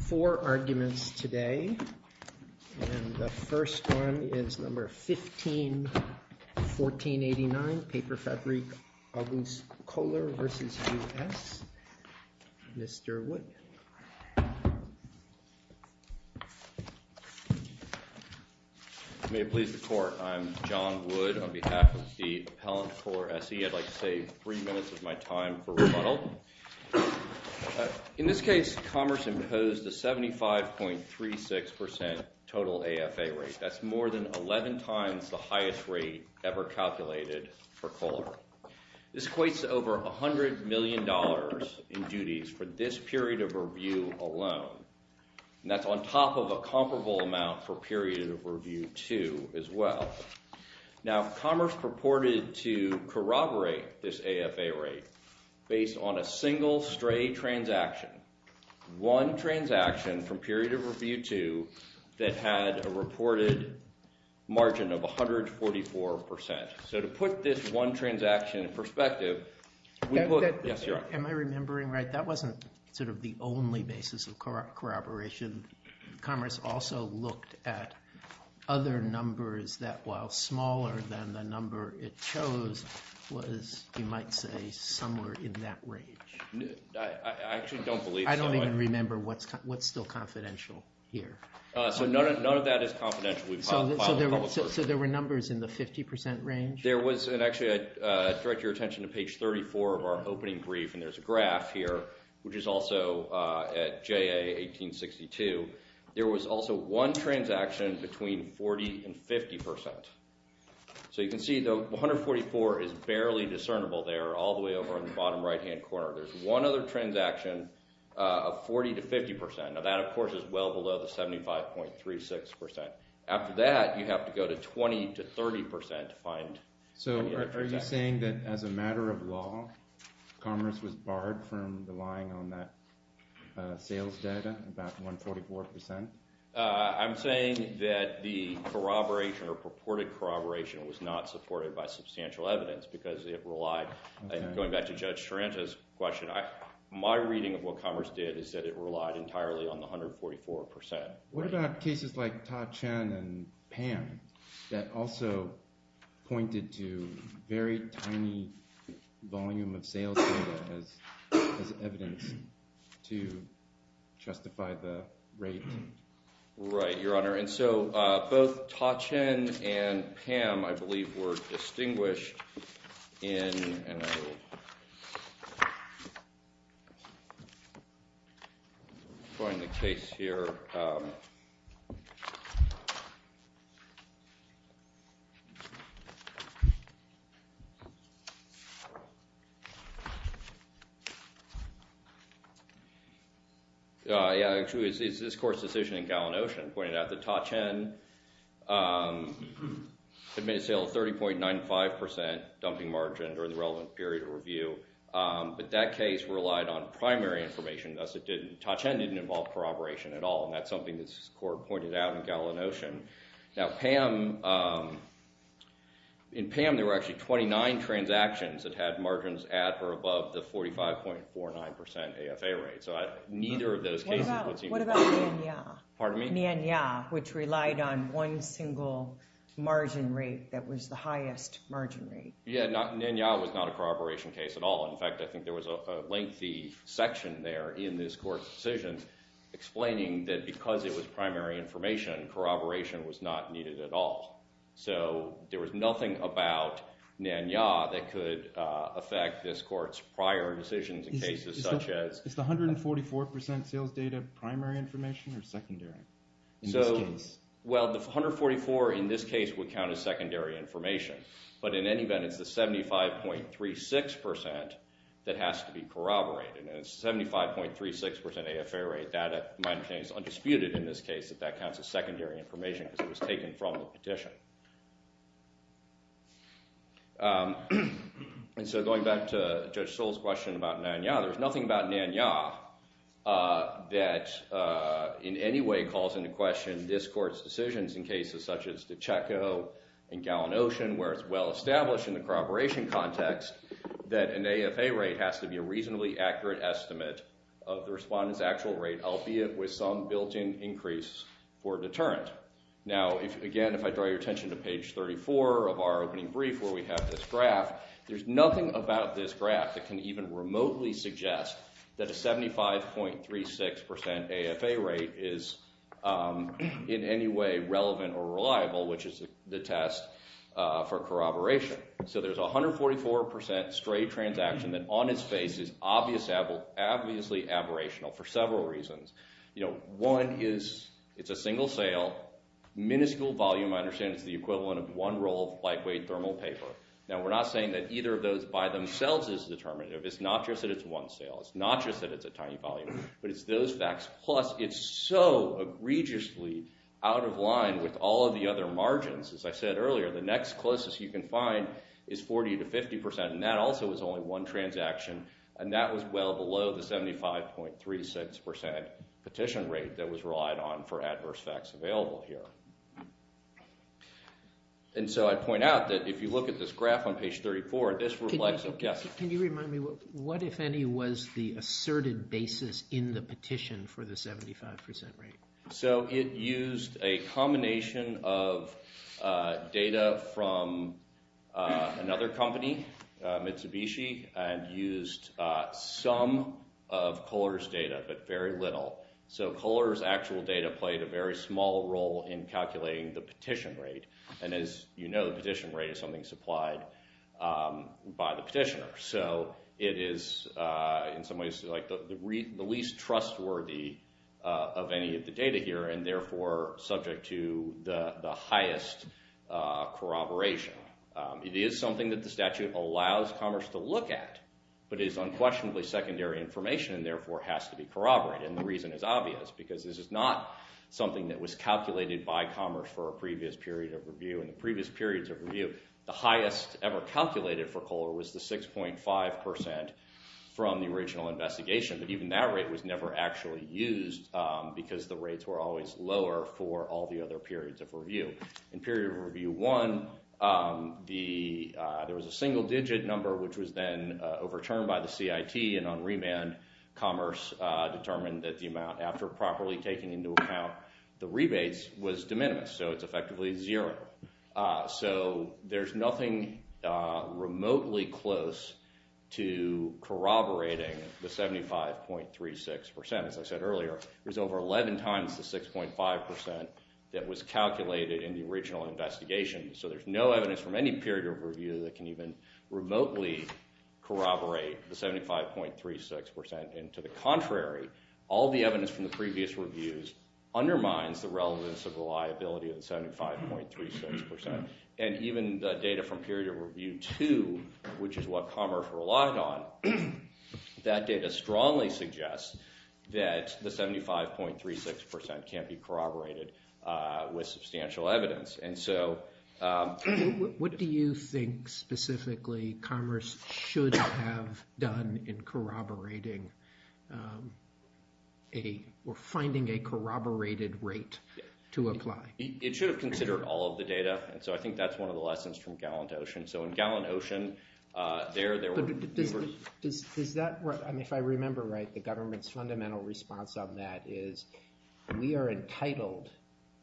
Four arguments today, and the first one is number 15-1489, Paperfabrik August Koehler v. U.S., Mr. Wood. May it please the court, I'm John Wood on behalf of the appellant Koehler SE. I'd like to say three minutes of my time for rebuttal. In this case, Commerce imposed a 75.36% total AFA rate. That's more than 11 times the highest rate ever calculated for Koehler. This equates to over $100 million in duties for this period of review alone, and that's on top of a comparable amount for period of review 2 as well. Now, Commerce purported to corroborate this AFA rate based on a single stray transaction, one transaction from period of review 2 that had a reported margin of 144%. So to put this one transaction in perspective, we look – yes, you're on. Am I remembering right? That wasn't sort of the only basis of corroboration. Commerce also looked at other numbers that, while smaller than the number it chose, was, you might say, somewhere in that range. I actually don't believe so. I don't even remember what's still confidential here. So none of that is confidential. So there were numbers in the 50% range? There was – and actually, I'd direct your attention to page 34 of our opening brief, and there's a graph here, which is also at JA 1862. There was also one transaction between 40% and 50%. So you can see the 144 is barely discernible there all the way over in the bottom right-hand corner. There's one other transaction of 40% to 50%. Now, that, of course, is well below the 75.36%. After that, you have to go to 20% to 30% to find – So are you saying that, as a matter of law, Commerce was barred from relying on that sales data, that 144%? I'm saying that the corroboration or purported corroboration was not supported by substantial evidence because it relied – My reading of what Commerce did is that it relied entirely on the 144%. What about cases like Ta-Cheng and Pam that also pointed to very tiny volume of sales data as evidence to justify the rate? Right, Your Honor. And so both Ta-Cheng and Pam, I believe, were distinguished in – And I will find the case here. Actually, it's this court's decision in Gallin-Ocean pointed out that Ta-Cheng had made a sale of 30.95% dumping margin during the relevant period of review. But that case relied on primary information, thus it didn't – And that's something this court pointed out in Gallin-Ocean. Now, Pam – in Pam, there were actually 29 transactions that had margins at or above the 45.49% AFA rate. So neither of those cases would seem to – What about Nian-Ya? Pardon me? Nian-Ya, which relied on one single margin rate that was the highest margin rate. Yeah, Nian-Ya was not a corroboration case at all. In fact, I think there was a lengthy section there in this court's decision explaining that because it was primary information, corroboration was not needed at all. So there was nothing about Nian-Ya that could affect this court's prior decisions in cases such as – Is the 144% sales data primary information or secondary in this case? Well, the 144 in this case would count as secondary information. But in any event, it's the 75.36% that has to be corroborated, and it's 75.36% AFA rate. That, in my opinion, is undisputed in this case that that counts as secondary information because it was taken from the petition. And so going back to Judge Sewell's question about Nian-Ya, there's nothing about Nian-Ya that in any way calls into question this court's decisions in cases such as the Chaco and Gallin Ocean where it's well established in the corroboration context that an AFA rate has to be a reasonably accurate estimate of the respondent's actual rate, albeit with some built-in increase or deterrent. Now, again, if I draw your attention to page 34 of our opening brief where we have this graph, there's nothing about this graph that can even remotely suggest that a 75.36% AFA rate is in any way relevant or reliable, which is the test for corroboration. So there's a 144% stray transaction that on its face is obviously aberrational for several reasons. One is it's a single sale, minuscule volume. I understand it's the equivalent of one roll of lightweight thermal paper. Now, we're not saying that either of those by themselves is determinative. It's not just that it's one sale. It's not just that it's a tiny volume, but it's those facts. Plus, it's so egregiously out of line with all of the other margins. As I said earlier, the next closest you can find is 40% to 50%, and that also is only one transaction. And that was well below the 75.36% petition rate that was relied on for adverse facts available here. And so I'd point out that if you look at this graph on page 34, this reflects a guess. Can you remind me what, if any, was the asserted basis in the petition for the 75% rate? So it used a combination of data from another company, Mitsubishi, and used some of Kohler's data, but very little. So Kohler's actual data played a very small role in calculating the petition rate. And as you know, the petition rate is something supplied by the petitioner. So it is, in some ways, the least trustworthy of any of the data here, and therefore subject to the highest corroboration. It is something that the statute allows commerce to look at, but it is unquestionably secondary information, and therefore has to be corroborated. And the reason is obvious, because this is not something that was calculated by commerce for a previous period of review. In the previous periods of review, the highest ever calculated for Kohler was the 6.5% from the original investigation. But even that rate was never actually used, because the rates were always lower for all the other periods of review. In period review one, there was a single-digit number, which was then overturned by the CIT, and on remand, commerce determined that the amount after properly taking into account the rebates was de minimis. So it's effectively zero. So there's nothing remotely close to corroborating the 75.36%. As I said earlier, there's over 11 times the 6.5% that was calculated in the original investigation. So there's no evidence from any period of review that can even remotely corroborate the 75.36%. And to the contrary, all the evidence from the previous reviews undermines the relevance of the liability of the 75.36%. And even the data from period review two, which is what commerce relied on, that data strongly suggests that the 75.36% can't be corroborated with substantial evidence. What do you think, specifically, commerce should have done in corroborating or finding a corroborated rate to apply? It should have considered all of the data. And so I think that's one of the lessons from Gallant Ocean. If I remember right, the government's fundamental response on that is, we are entitled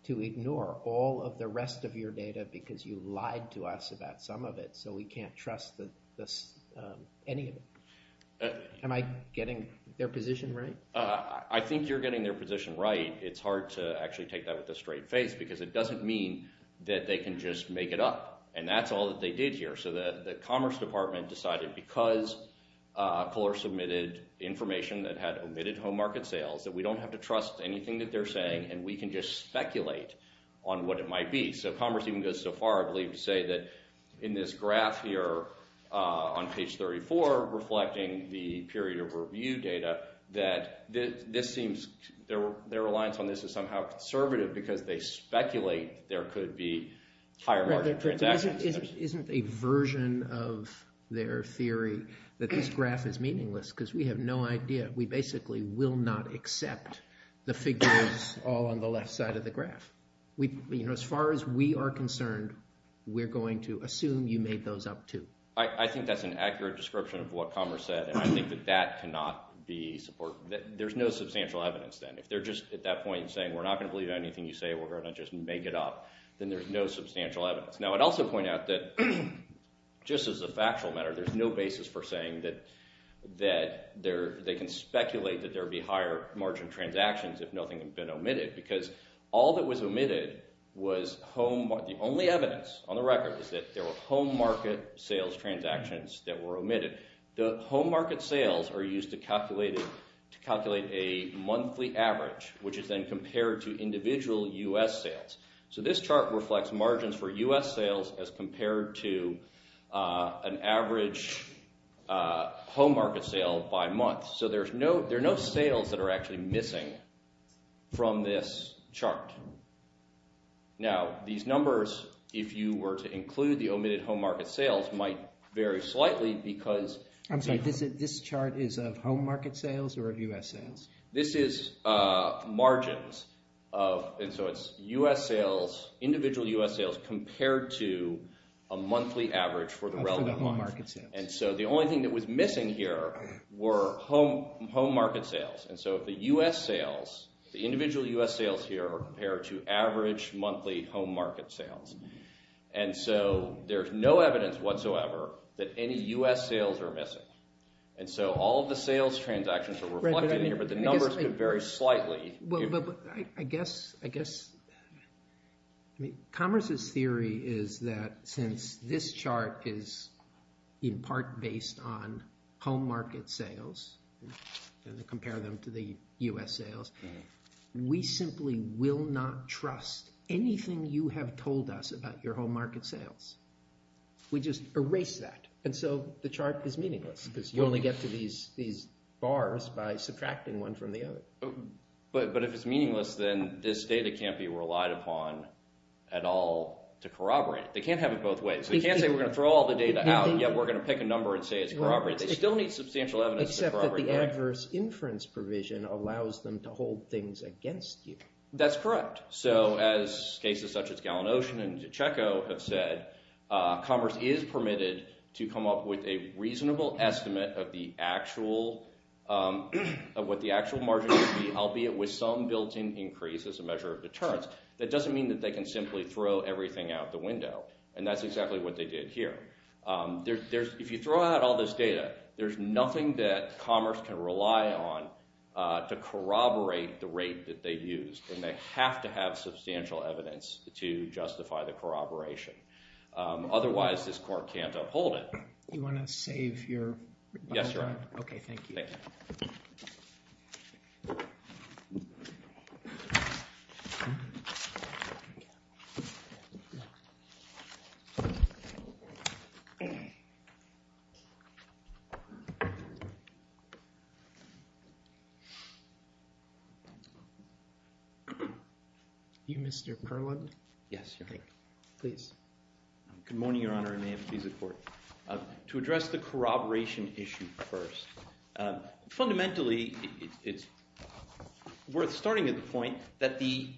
to ignore all of the rest of your data because you lied to us about some of it, so we can't trust any of it. Am I getting their position right? I think you're getting their position right. It's hard to actually take that with a straight face because it doesn't mean that they can just make it up. And that's all that they did here. So the commerce department decided because Kohler submitted information that had omitted home market sales, that we don't have to trust anything that they're saying, and we can just speculate on what it might be. So commerce even goes so far, I believe, to say that in this graph here on page 34, reflecting the period of review data, that this seems their reliance on this is somehow conservative because they speculate there could be higher market transactions. Isn't a version of their theory that this graph is meaningless? Because we have no idea. We basically will not accept the figures all on the left side of the graph. As far as we are concerned, we're going to assume you made those up too. I think that's an accurate description of what commerce said, and I think that that cannot be supported. There's no substantial evidence then. If they're just at that point saying we're not going to believe anything you say, we're going to just make it up, then there's no substantial evidence. Now, I'd also point out that just as a factual matter, there's no basis for saying that they can speculate that there would be higher margin transactions if nothing had been omitted because all that was omitted was the only evidence on the record The home market sales are used to calculate a monthly average, which is then compared to individual U.S. sales. So this chart reflects margins for U.S. sales as compared to an average home market sale by month. So there are no sales that are actually missing from this chart. Now, these numbers, if you were to include the omitted home market sales, might vary slightly because— I'm sorry. This chart is of home market sales or of U.S. sales? This is margins, and so it's individual U.S. sales compared to a monthly average for the relevant month. And so the only thing that was missing here were home market sales. And so the U.S. sales, the individual U.S. sales here are compared to average monthly home market sales. And so there's no evidence whatsoever that any U.S. sales are missing. And so all of the sales transactions are reflected here, but the numbers vary slightly. I guess Commerce's theory is that since this chart is in part based on home market sales and compare them to the U.S. sales, we simply will not trust anything you have told us about your home market sales. We just erase that, and so the chart is meaningless because you only get to these bars by subtracting one from the other. But if it's meaningless, then this data can't be relied upon at all to corroborate it. They can't have it both ways. They can't say we're going to throw all the data out, yet we're going to pick a number and say it's corroborated. They still need substantial evidence to corroborate it. Except that the adverse inference provision allows them to hold things against you. That's correct. So as cases such as Gallin-Ocean and DiCicco have said, Commerce is permitted to come up with a reasonable estimate of what the actual margin would be, albeit with some built-in increase as a measure of deterrence. That doesn't mean that they can simply throw everything out the window, and that's exactly what they did here. If you throw out all this data, there's nothing that Commerce can rely on to corroborate the rate that they used, and they have to have substantial evidence to justify the corroboration. Otherwise, this court can't uphold it. Do you want to save your time? Yes, Your Honor. Okay, thank you. You, Mr. Perlund? Yes, Your Honor. Please. Good morning, Your Honor, and may it please the court. To address the corroboration issue first, fundamentally it's worth starting at the point that the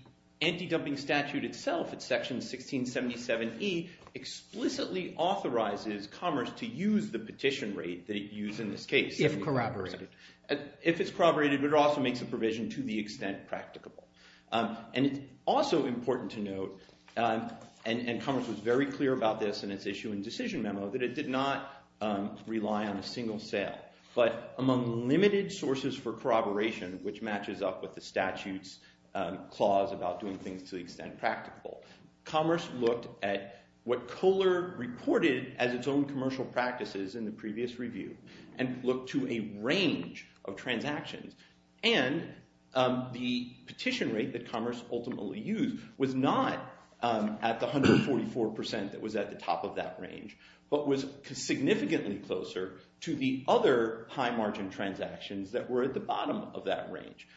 anti-dumping statute itself, it's section 1677E, explicitly authorizes Commerce to use the petition rate that it used in this case. If corroborated. If it's corroborated, but it also makes a provision to the extent practicable. And it's also important to note, and Commerce was very clear about this in its issue and decision memo, that it did not rely on a single sale, but among limited sources for corroboration, which matches up with the statute's clause about doing things to the extent practicable, Commerce looked at what Kohler reported as its own commercial practices in the previous review and looked to a range of transactions. And the petition rate that Commerce ultimately used was not at the 144% that was at the top of that range, but was significantly closer to the other high margin transactions that were at the bottom of that range.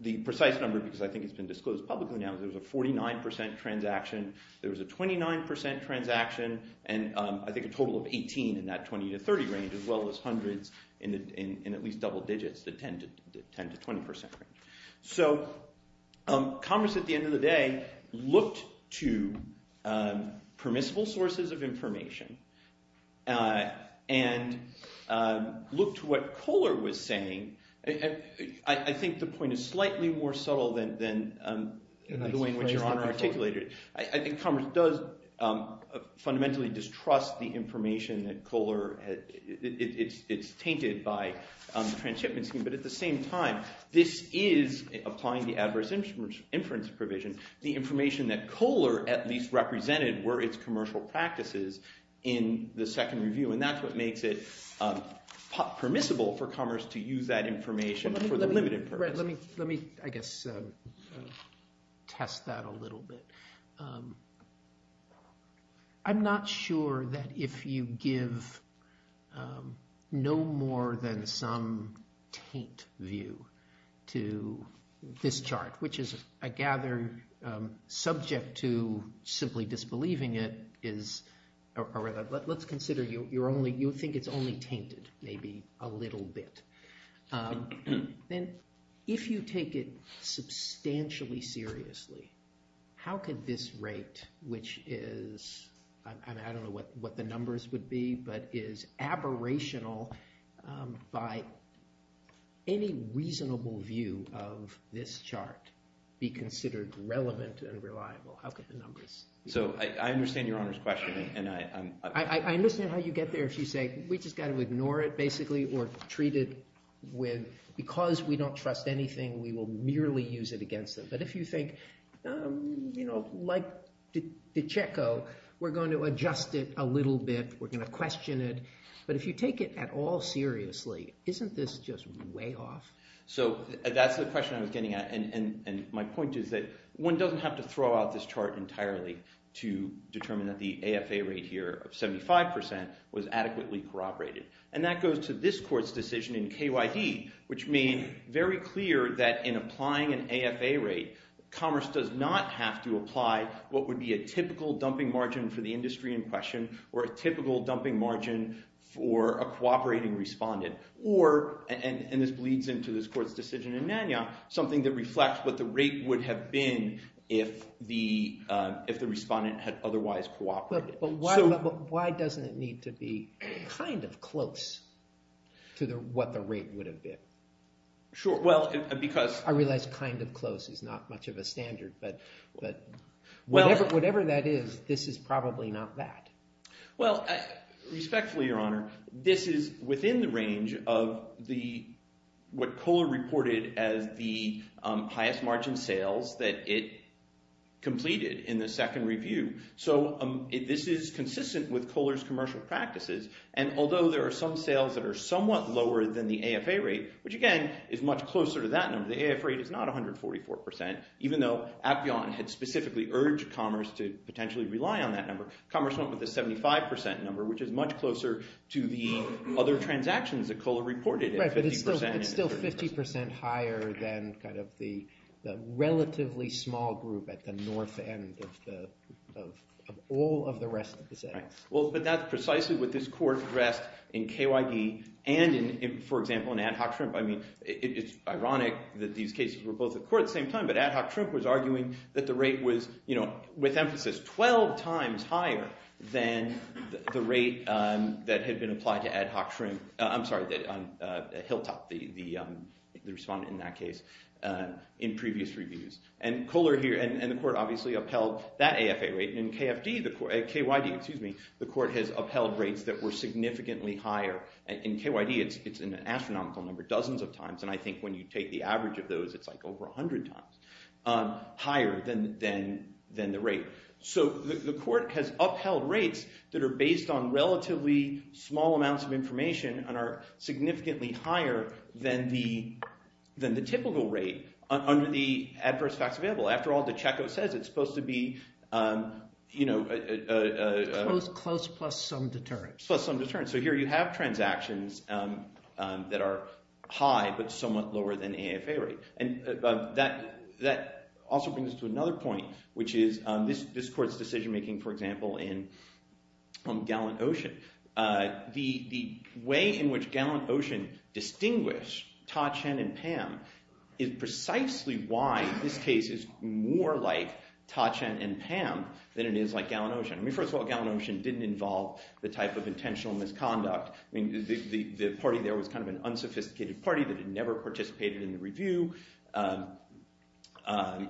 The precise number, because I think it's been disclosed publicly now, there was a 49% transaction, there was a 29% transaction, and I think a total of 18 in that 20 to 30 range, as well as hundreds in at least double digits, the 10 to 20% range. So Commerce, at the end of the day, looked to permissible sources of information and looked to what Kohler was saying. I think the point is slightly more subtle than the way in which Your Honor articulated it. I think Commerce does fundamentally distrust the information that Kohler – it's tainted by the transshipment scheme, but at the same time, this is applying the adverse inference provision. The information that Kohler at least represented were its commercial practices in the second review, and that's what makes it permissible for Commerce to use that information for the limited purpose. Let me, I guess, test that a little bit. I'm not sure that if you give no more than some taint view to this chart, which is, I gather, subject to simply disbelieving it is – or let's consider you think it's only tainted maybe a little bit. Then if you take it substantially seriously, how could this rate, which is – be considered relevant and reliable? How could the numbers – So I understand Your Honor's question. I understand how you get there if you say we just got to ignore it basically or treat it with – because we don't trust anything, we will merely use it against them. But if you think like DiCecco, we're going to adjust it a little bit, we're going to question it. But if you take it at all seriously, isn't this just way off? So that's the question I was getting at, and my point is that one doesn't have to throw out this chart entirely to determine that the AFA rate here of 75% was adequately corroborated. And that goes to this court's decision in KYD, which made very clear that in applying an AFA rate, Commerce does not have to apply what would be a typical dumping margin for the industry in question or a typical dumping margin for a cooperating respondent. Or – and this bleeds into this court's decision in Nanyang – something that reflects what the rate would have been if the respondent had otherwise cooperated. But why doesn't it need to be kind of close to what the rate would have been? Sure. Well, because – I realize kind of close is not much of a standard, but whatever that is, this is probably not that. Well, respectfully, Your Honor, this is within the range of the – what Kohler reported as the highest margin sales that it completed in the second review. So this is consistent with Kohler's commercial practices, and although there are some sales that are somewhat lower than the AFA rate, which again is much closer to that number – the AFA rate is not 144% – even though Appion had specifically urged Commerce to potentially rely on that number, Commerce went with the 75% number, which is much closer to the other transactions that Kohler reported. Right, but it's still 50% higher than kind of the relatively small group at the north end of all of the rest of the settings. Well, but that's precisely what this court addressed in KYD and, for example, in Ad Hoc Shrimp. I mean, it's ironic that these cases were both at court at the same time, but Ad Hoc Shrimp was arguing that the rate was, you know, with emphasis, 12 times higher than the rate that had been applied to Ad Hoc Shrimp – I'm sorry, Hilltop, the respondent in that case in previous reviews. And Kohler here – and the court obviously upheld that AFA rate. In KYD, the court has upheld rates that were significantly higher. In KYD, it's an astronomical number, dozens of times, and I think when you take the average of those, it's like over 100 times higher than the rate. So the court has upheld rates that are based on relatively small amounts of information and are significantly higher than the typical rate under the adverse facts available. After all, DeChecko says it's supposed to be – Close plus some deterrence. Plus some deterrence. So here you have transactions that are high but somewhat lower than AFA rate. And that also brings us to another point, which is this court's decision-making, for example, in Gallant Ocean. The way in which Gallant Ocean distinguished Ta-Cheng and Pam is precisely why this case is more like Ta-Cheng and Pam than it is like Gallant Ocean. I mean, first of all, Gallant Ocean didn't involve the type of intentional misconduct. I mean, the party there was kind of an unsophisticated party that had never participated in the review. Do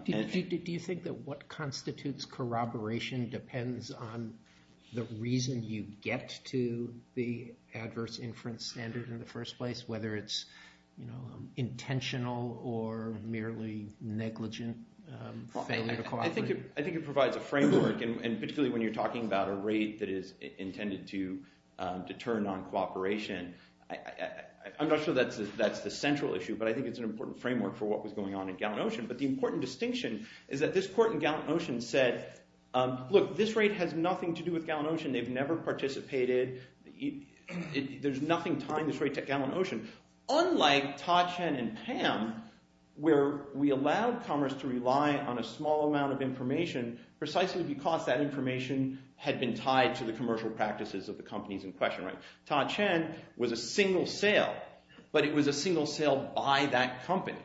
you think that what constitutes corroboration depends on the reason you get to the adverse inference standard in the first place, whether it's intentional or merely negligent failure to cooperate? I think it provides a framework, and particularly when you're talking about a rate that is intended to deter noncooperation. I'm not sure that's the central issue, but I think it's an important framework for what was going on in Gallant Ocean. But the important distinction is that this court in Gallant Ocean said, look, this rate has nothing to do with Gallant Ocean. They've never participated. There's nothing tying this rate to Gallant Ocean. Unlike Ta-Cheng and Pam, where we allowed Commerce to rely on a small amount of information precisely because that information had been tied to the commercial practices of the companies in question. Ta-Cheng was a single sale, but it was a single sale by that company.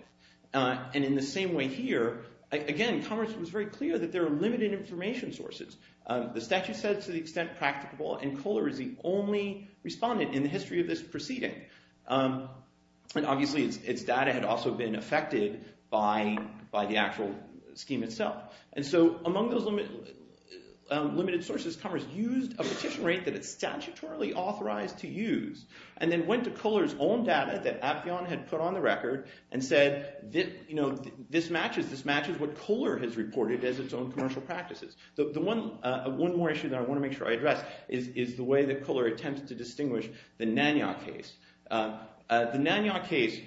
And in the same way here, again, Commerce was very clear that there are limited information sources. The statute said to the extent practicable, and Kohler is the only respondent in the history of this proceeding. And obviously its data had also been affected by the actual scheme itself. And so among those limited sources, Commerce used a petition rate that it's statutorily authorized to use and then went to Kohler's own data that Appion had put on the record and said, this matches what Kohler has reported as its own commercial practices. The one more issue that I want to make sure I address is the way that Kohler attempted to distinguish the Nanyang case. The Nanyang case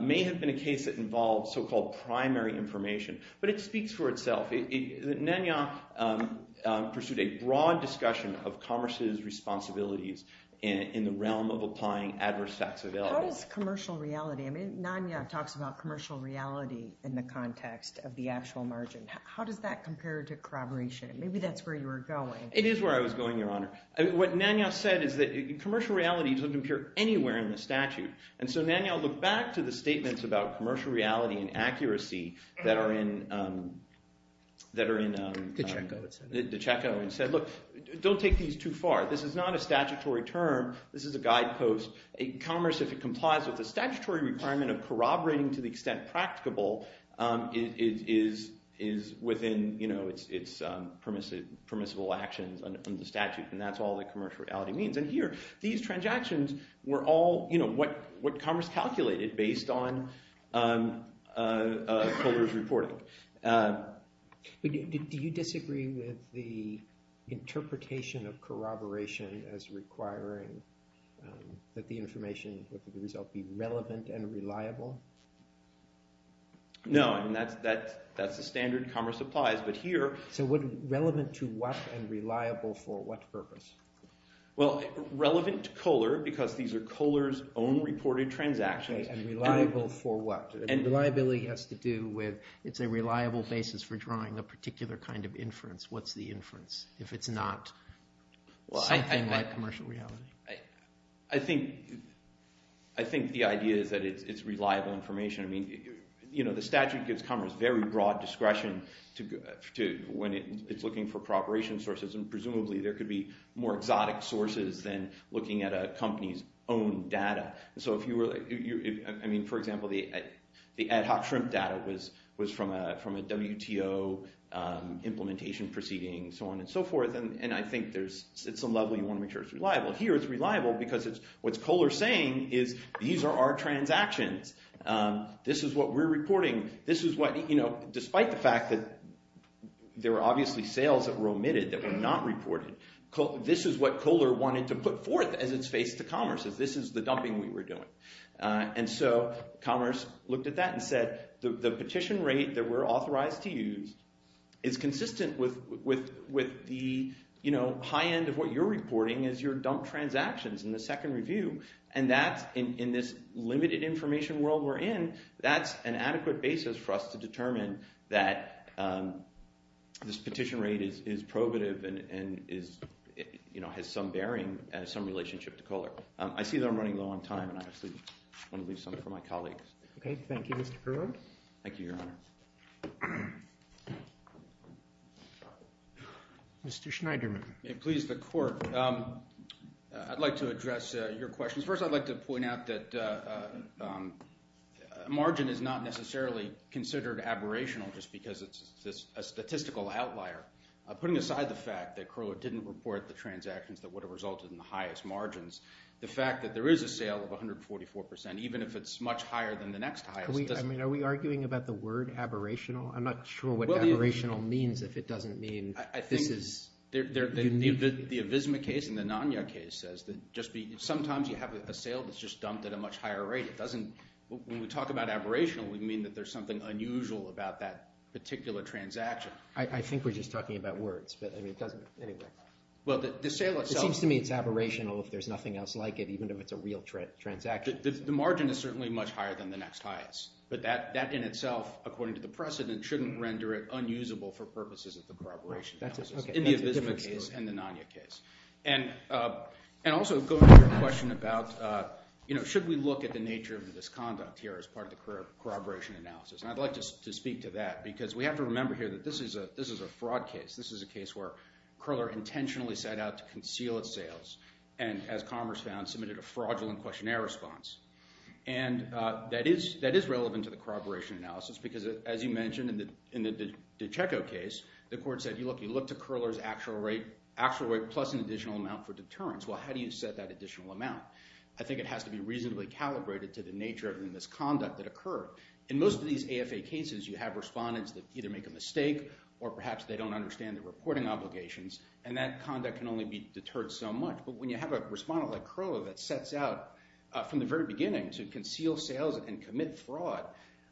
may have been a case that involved so-called primary information, but it speaks for itself. Nanyang pursued a broad discussion of Commerce's responsibilities in the realm of applying adverse taxability. How does commercial reality – I mean, Nanyang talks about commercial reality in the context of the actual margin. How does that compare to corroboration? Maybe that's where you were going. It is where I was going, Your Honor. What Nanyang said is that commercial reality doesn't appear anywhere in the statute. And so Nanyang looked back to the statements about commercial reality and accuracy that are in – The Checo, it said. The Checo, and said, look, don't take these too far. This is not a statutory term. This is a guidepost. Commerce, if it complies with the statutory requirement of corroborating to the extent practicable, is within its permissible actions under the statute. And that's all that commercial reality means. And here, these transactions were all what Commerce calculated based on Kohler's reporting. Do you disagree with the interpretation of corroboration as requiring that the information, the result be relevant and reliable? No. That's the standard Commerce applies. So relevant to what and reliable for what purpose? Well, relevant to Kohler because these are Kohler's own reported transactions. And reliable for what? Reliability has to do with – it's a reliable basis for drawing a particular kind of inference. What's the inference if it's not something like commercial reality? I think the idea is that it's reliable information. I mean the statute gives Commerce very broad discretion when it's looking for corroboration sources, and presumably there could be more exotic sources than looking at a company's own data. So if you were – I mean, for example, the ad hoc shrimp data was from a WTO implementation proceeding, so on and so forth. And I think there's – at some level you want to make sure it's reliable. Here it's reliable because it's – what's Kohler saying is these are our transactions. This is what we're reporting. This is what – despite the fact that there were obviously sales that were omitted that were not reported. This is what Kohler wanted to put forth as its face to Commerce. This is the dumping we were doing. And so Commerce looked at that and said the petition rate that we're authorized to use is consistent with the high end of what you're reporting as your dump transactions in the second review. And that's – in this limited information world we're in, that's an adequate basis for us to determine that this petition rate is probative and has some bearing and some relationship to Kohler. I see that I'm running low on time, and I actually want to leave some for my colleagues. Okay, thank you, Mr. Koehler. Thank you, Your Honor. Mr. Schneiderman. Please, the court. I'd like to address your questions. First, I'd like to point out that margin is not necessarily considered aberrational just because it's a statistical outlier. Putting aside the fact that Kohler didn't report the transactions that would have resulted in the highest margins, the fact that there is a sale of 144%, even if it's much higher than the next highest, doesn't – Are we arguing about the word aberrational? I'm not sure what aberrational means if it doesn't mean this is unique. The Avisma case and the Nanya case says that just be – sometimes you have a sale that's just dumped at a much higher rate. It doesn't – when we talk about aberrational, we mean that there's something unusual about that particular transaction. I think we're just talking about words, but it doesn't – anyway. Well, the sale itself – It seems to me it's aberrational if there's nothing else like it, even if it's a real transaction. The margin is certainly much higher than the next highest, but that in itself, according to the precedent, shouldn't render it unusable for purposes of the corroboration analysis in the Avisma case and the Nanya case. And also going to your question about should we look at the nature of the misconduct here as part of the corroboration analysis? And I'd like to speak to that because we have to remember here that this is a fraud case. This is a case where Koehler intentionally set out to conceal its sales and, as Commerce found, submitted a fraudulent questionnaire response. And that is relevant to the corroboration analysis because, as you mentioned, in the DiCicco case, the court said, look, you look to Koehler's actual rate plus an additional amount for deterrence. Well, how do you set that additional amount? I think it has to be reasonably calibrated to the nature of this conduct that occurred. In most of these AFA cases, you have respondents that either make a mistake or perhaps they don't understand the reporting obligations, and that conduct can only be deterred so much. But when you have a respondent like Koehler that sets out from the very beginning to conceal sales and commit fraud,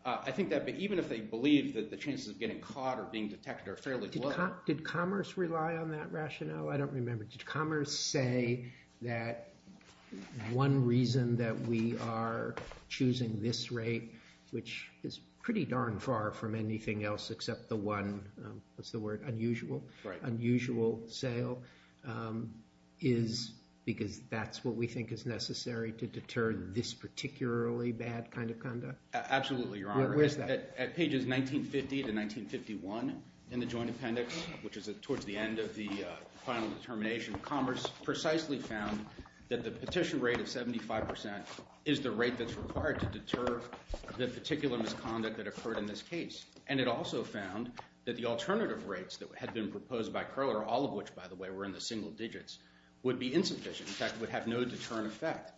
I think that even if they believe that the chances of getting caught or being detected are fairly low— Did Commerce rely on that rationale? I don't remember. Did Commerce say that one reason that we are choosing this rate, which is pretty darn far from anything else except the one—what's the word—unusual sale, is because that's what we think is necessary to deter this particularly bad kind of conduct? Absolutely, Your Honor. Where's that? At pages 1950 to 1951 in the Joint Appendix, which is towards the end of the final determination, Commerce precisely found that the petition rate of 75% is the rate that's required to deter the particular misconduct that occurred in this case. And it also found that the alternative rates that had been proposed by Koehler—all of which, by the way, were in the single digits—would be insufficient. In fact, would have no deterrent effect.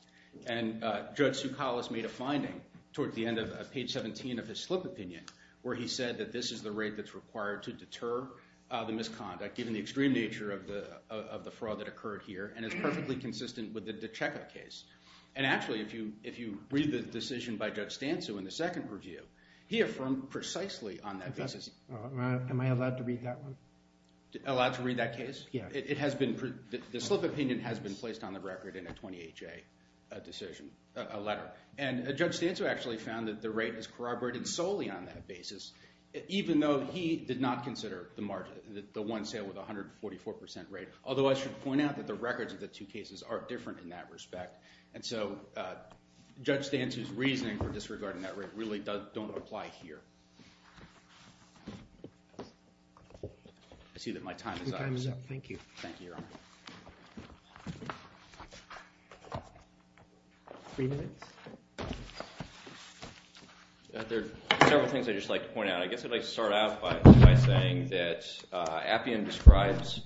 And Judge Soukalos made a finding towards the end of page 17 of his slip opinion where he said that this is the rate that's required to deter the misconduct, given the extreme nature of the fraud that occurred here, and it's perfectly consistent with the DiCecca case. And actually, if you read the decision by Judge Stancu in the second review, he affirmed precisely on that basis. Am I allowed to read that one? Allowed to read that case? Yeah. The slip opinion has been placed on the record in a 20HA decision—a letter. And Judge Stancu actually found that the rate is corroborated solely on that basis, even though he did not consider the one sale with a 144% rate, although I should point out that the records of the two cases are different in that respect. And so Judge Stancu's reasoning for disregarding that rate really don't apply here. Time is up. Thank you. Thank you, Your Honor. Three minutes. There are several things I'd just like to point out. I guess I'd like to start out by saying that Appian describes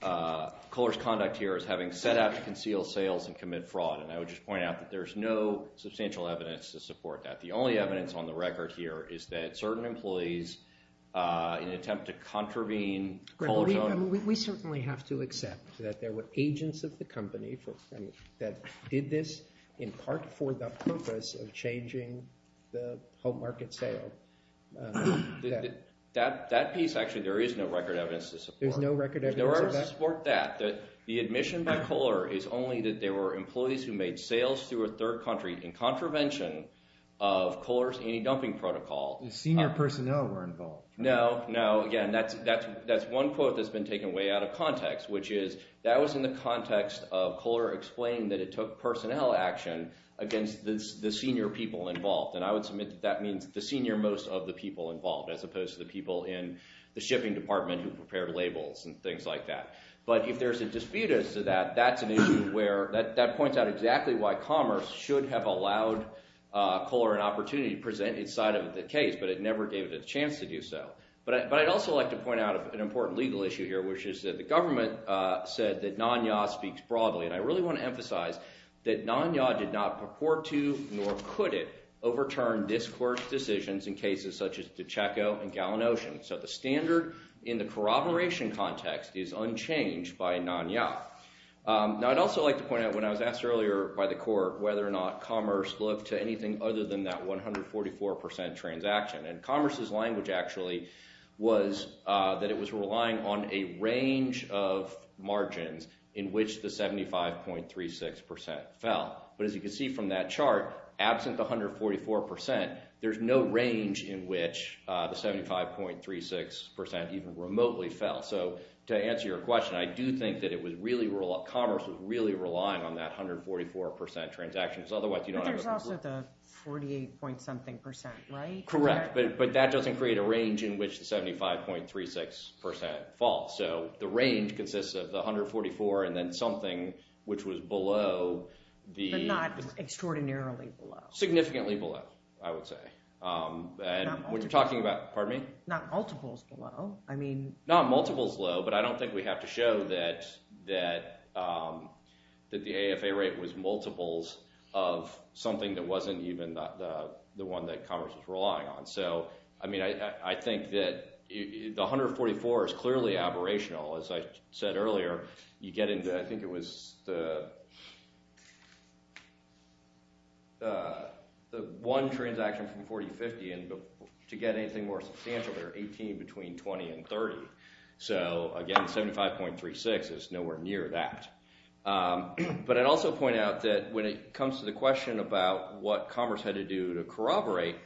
Kohler's conduct here as having set out to conceal sales and commit fraud, and I would just point out that there is no substantial evidence to support that. The only evidence on the record here is that certain employees, in an attempt to contravene Kohler's own— We certainly have to accept that there were agents of the company that did this in part for the purpose of changing the home market sale. That piece, actually, there is no record evidence to support. There's no record evidence of that? The admission by Kohler is only that there were employees who made sales through a third country in contravention of Kohler's anti-dumping protocol. Senior personnel were involved. No, no. Again, that's one quote that's been taken way out of context, which is that was in the context of Kohler explaining that it took personnel action against the senior people involved. And I would submit that that means the senior most of the people involved as opposed to the people in the shipping department who prepared labels and things like that. But if there's a dispute as to that, that's an issue where—that points out exactly why Commerce should have allowed Kohler an opportunity to present its side of the case, but it never gave it a chance to do so. But I'd also like to point out an important legal issue here, which is that the government said that NANYA speaks broadly. And I really want to emphasize that NANYA did not purport to nor could it overturn this court's decisions in cases such as the Chaco and Gallin Ocean. So the standard in the corroboration context is unchanged by NANYA. Now, I'd also like to point out when I was asked earlier by the court whether or not Commerce looked to anything other than that 144% transaction. And Commerce's language actually was that it was relying on a range of margins in which the 75.36% fell. But as you can see from that chart, absent the 144%, there's no range in which the 75.36% even remotely fell. So to answer your question, I do think that it was really—Commerce was really relying on that 144% transaction because otherwise you don't have— But there's also the 48-point-something percent, right? Correct, but that doesn't create a range in which the 75.36% falls. So the range consists of the 144% and then something which was below the— But not extraordinarily below. Significantly below, I would say. Not multiples. Pardon me? Not multiples below. I mean— Not multiples low, but I don't think we have to show that the AFA rate was multiples of something that wasn't even the one that Commerce was relying on. So, I mean, I think that the 144 is clearly aberrational. As I said earlier, you get into—I think it was the one transaction from 40-50, and to get anything more substantial, there are 18 between 20 and 30. So, again, 75.36 is nowhere near that. But I'd also point out that when it comes to the question about what Commerce had to do to corroborate,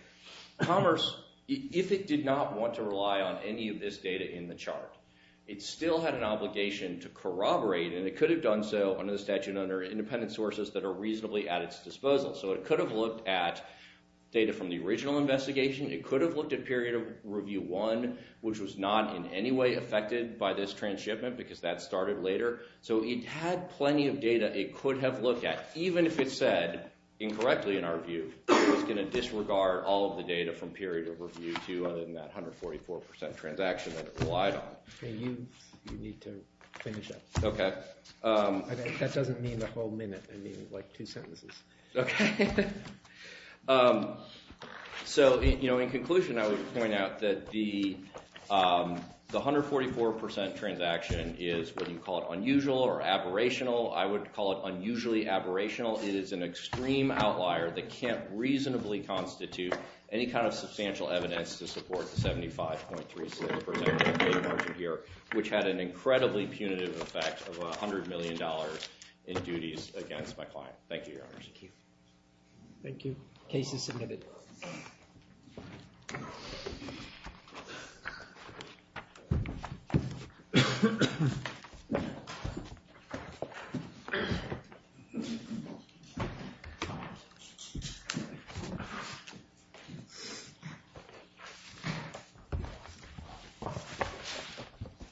Commerce— It still had an obligation to corroborate, and it could have done so under the statute and under independent sources that are reasonably at its disposal. So it could have looked at data from the original investigation. It could have looked at period of review one, which was not in any way affected by this transshipment because that started later. So it had plenty of data it could have looked at, even if it said, incorrectly in our view, it was going to disregard all of the data from period of review two other than that 144% transaction that it relied on. You need to finish up. Okay. That doesn't mean the whole minute. I mean, like two sentences. Okay. So, in conclusion, I would point out that the 144% transaction is, whether you call it unusual or aberrational, I would call it unusually aberrational. It is an extreme outlier that can't reasonably constitute any kind of substantial evidence to support the 75.36% of the margin here, which had an incredibly punitive effect of $100 million in duties against my client. Thank you, Your Honors. Thank you. Case is submitted. Thank you.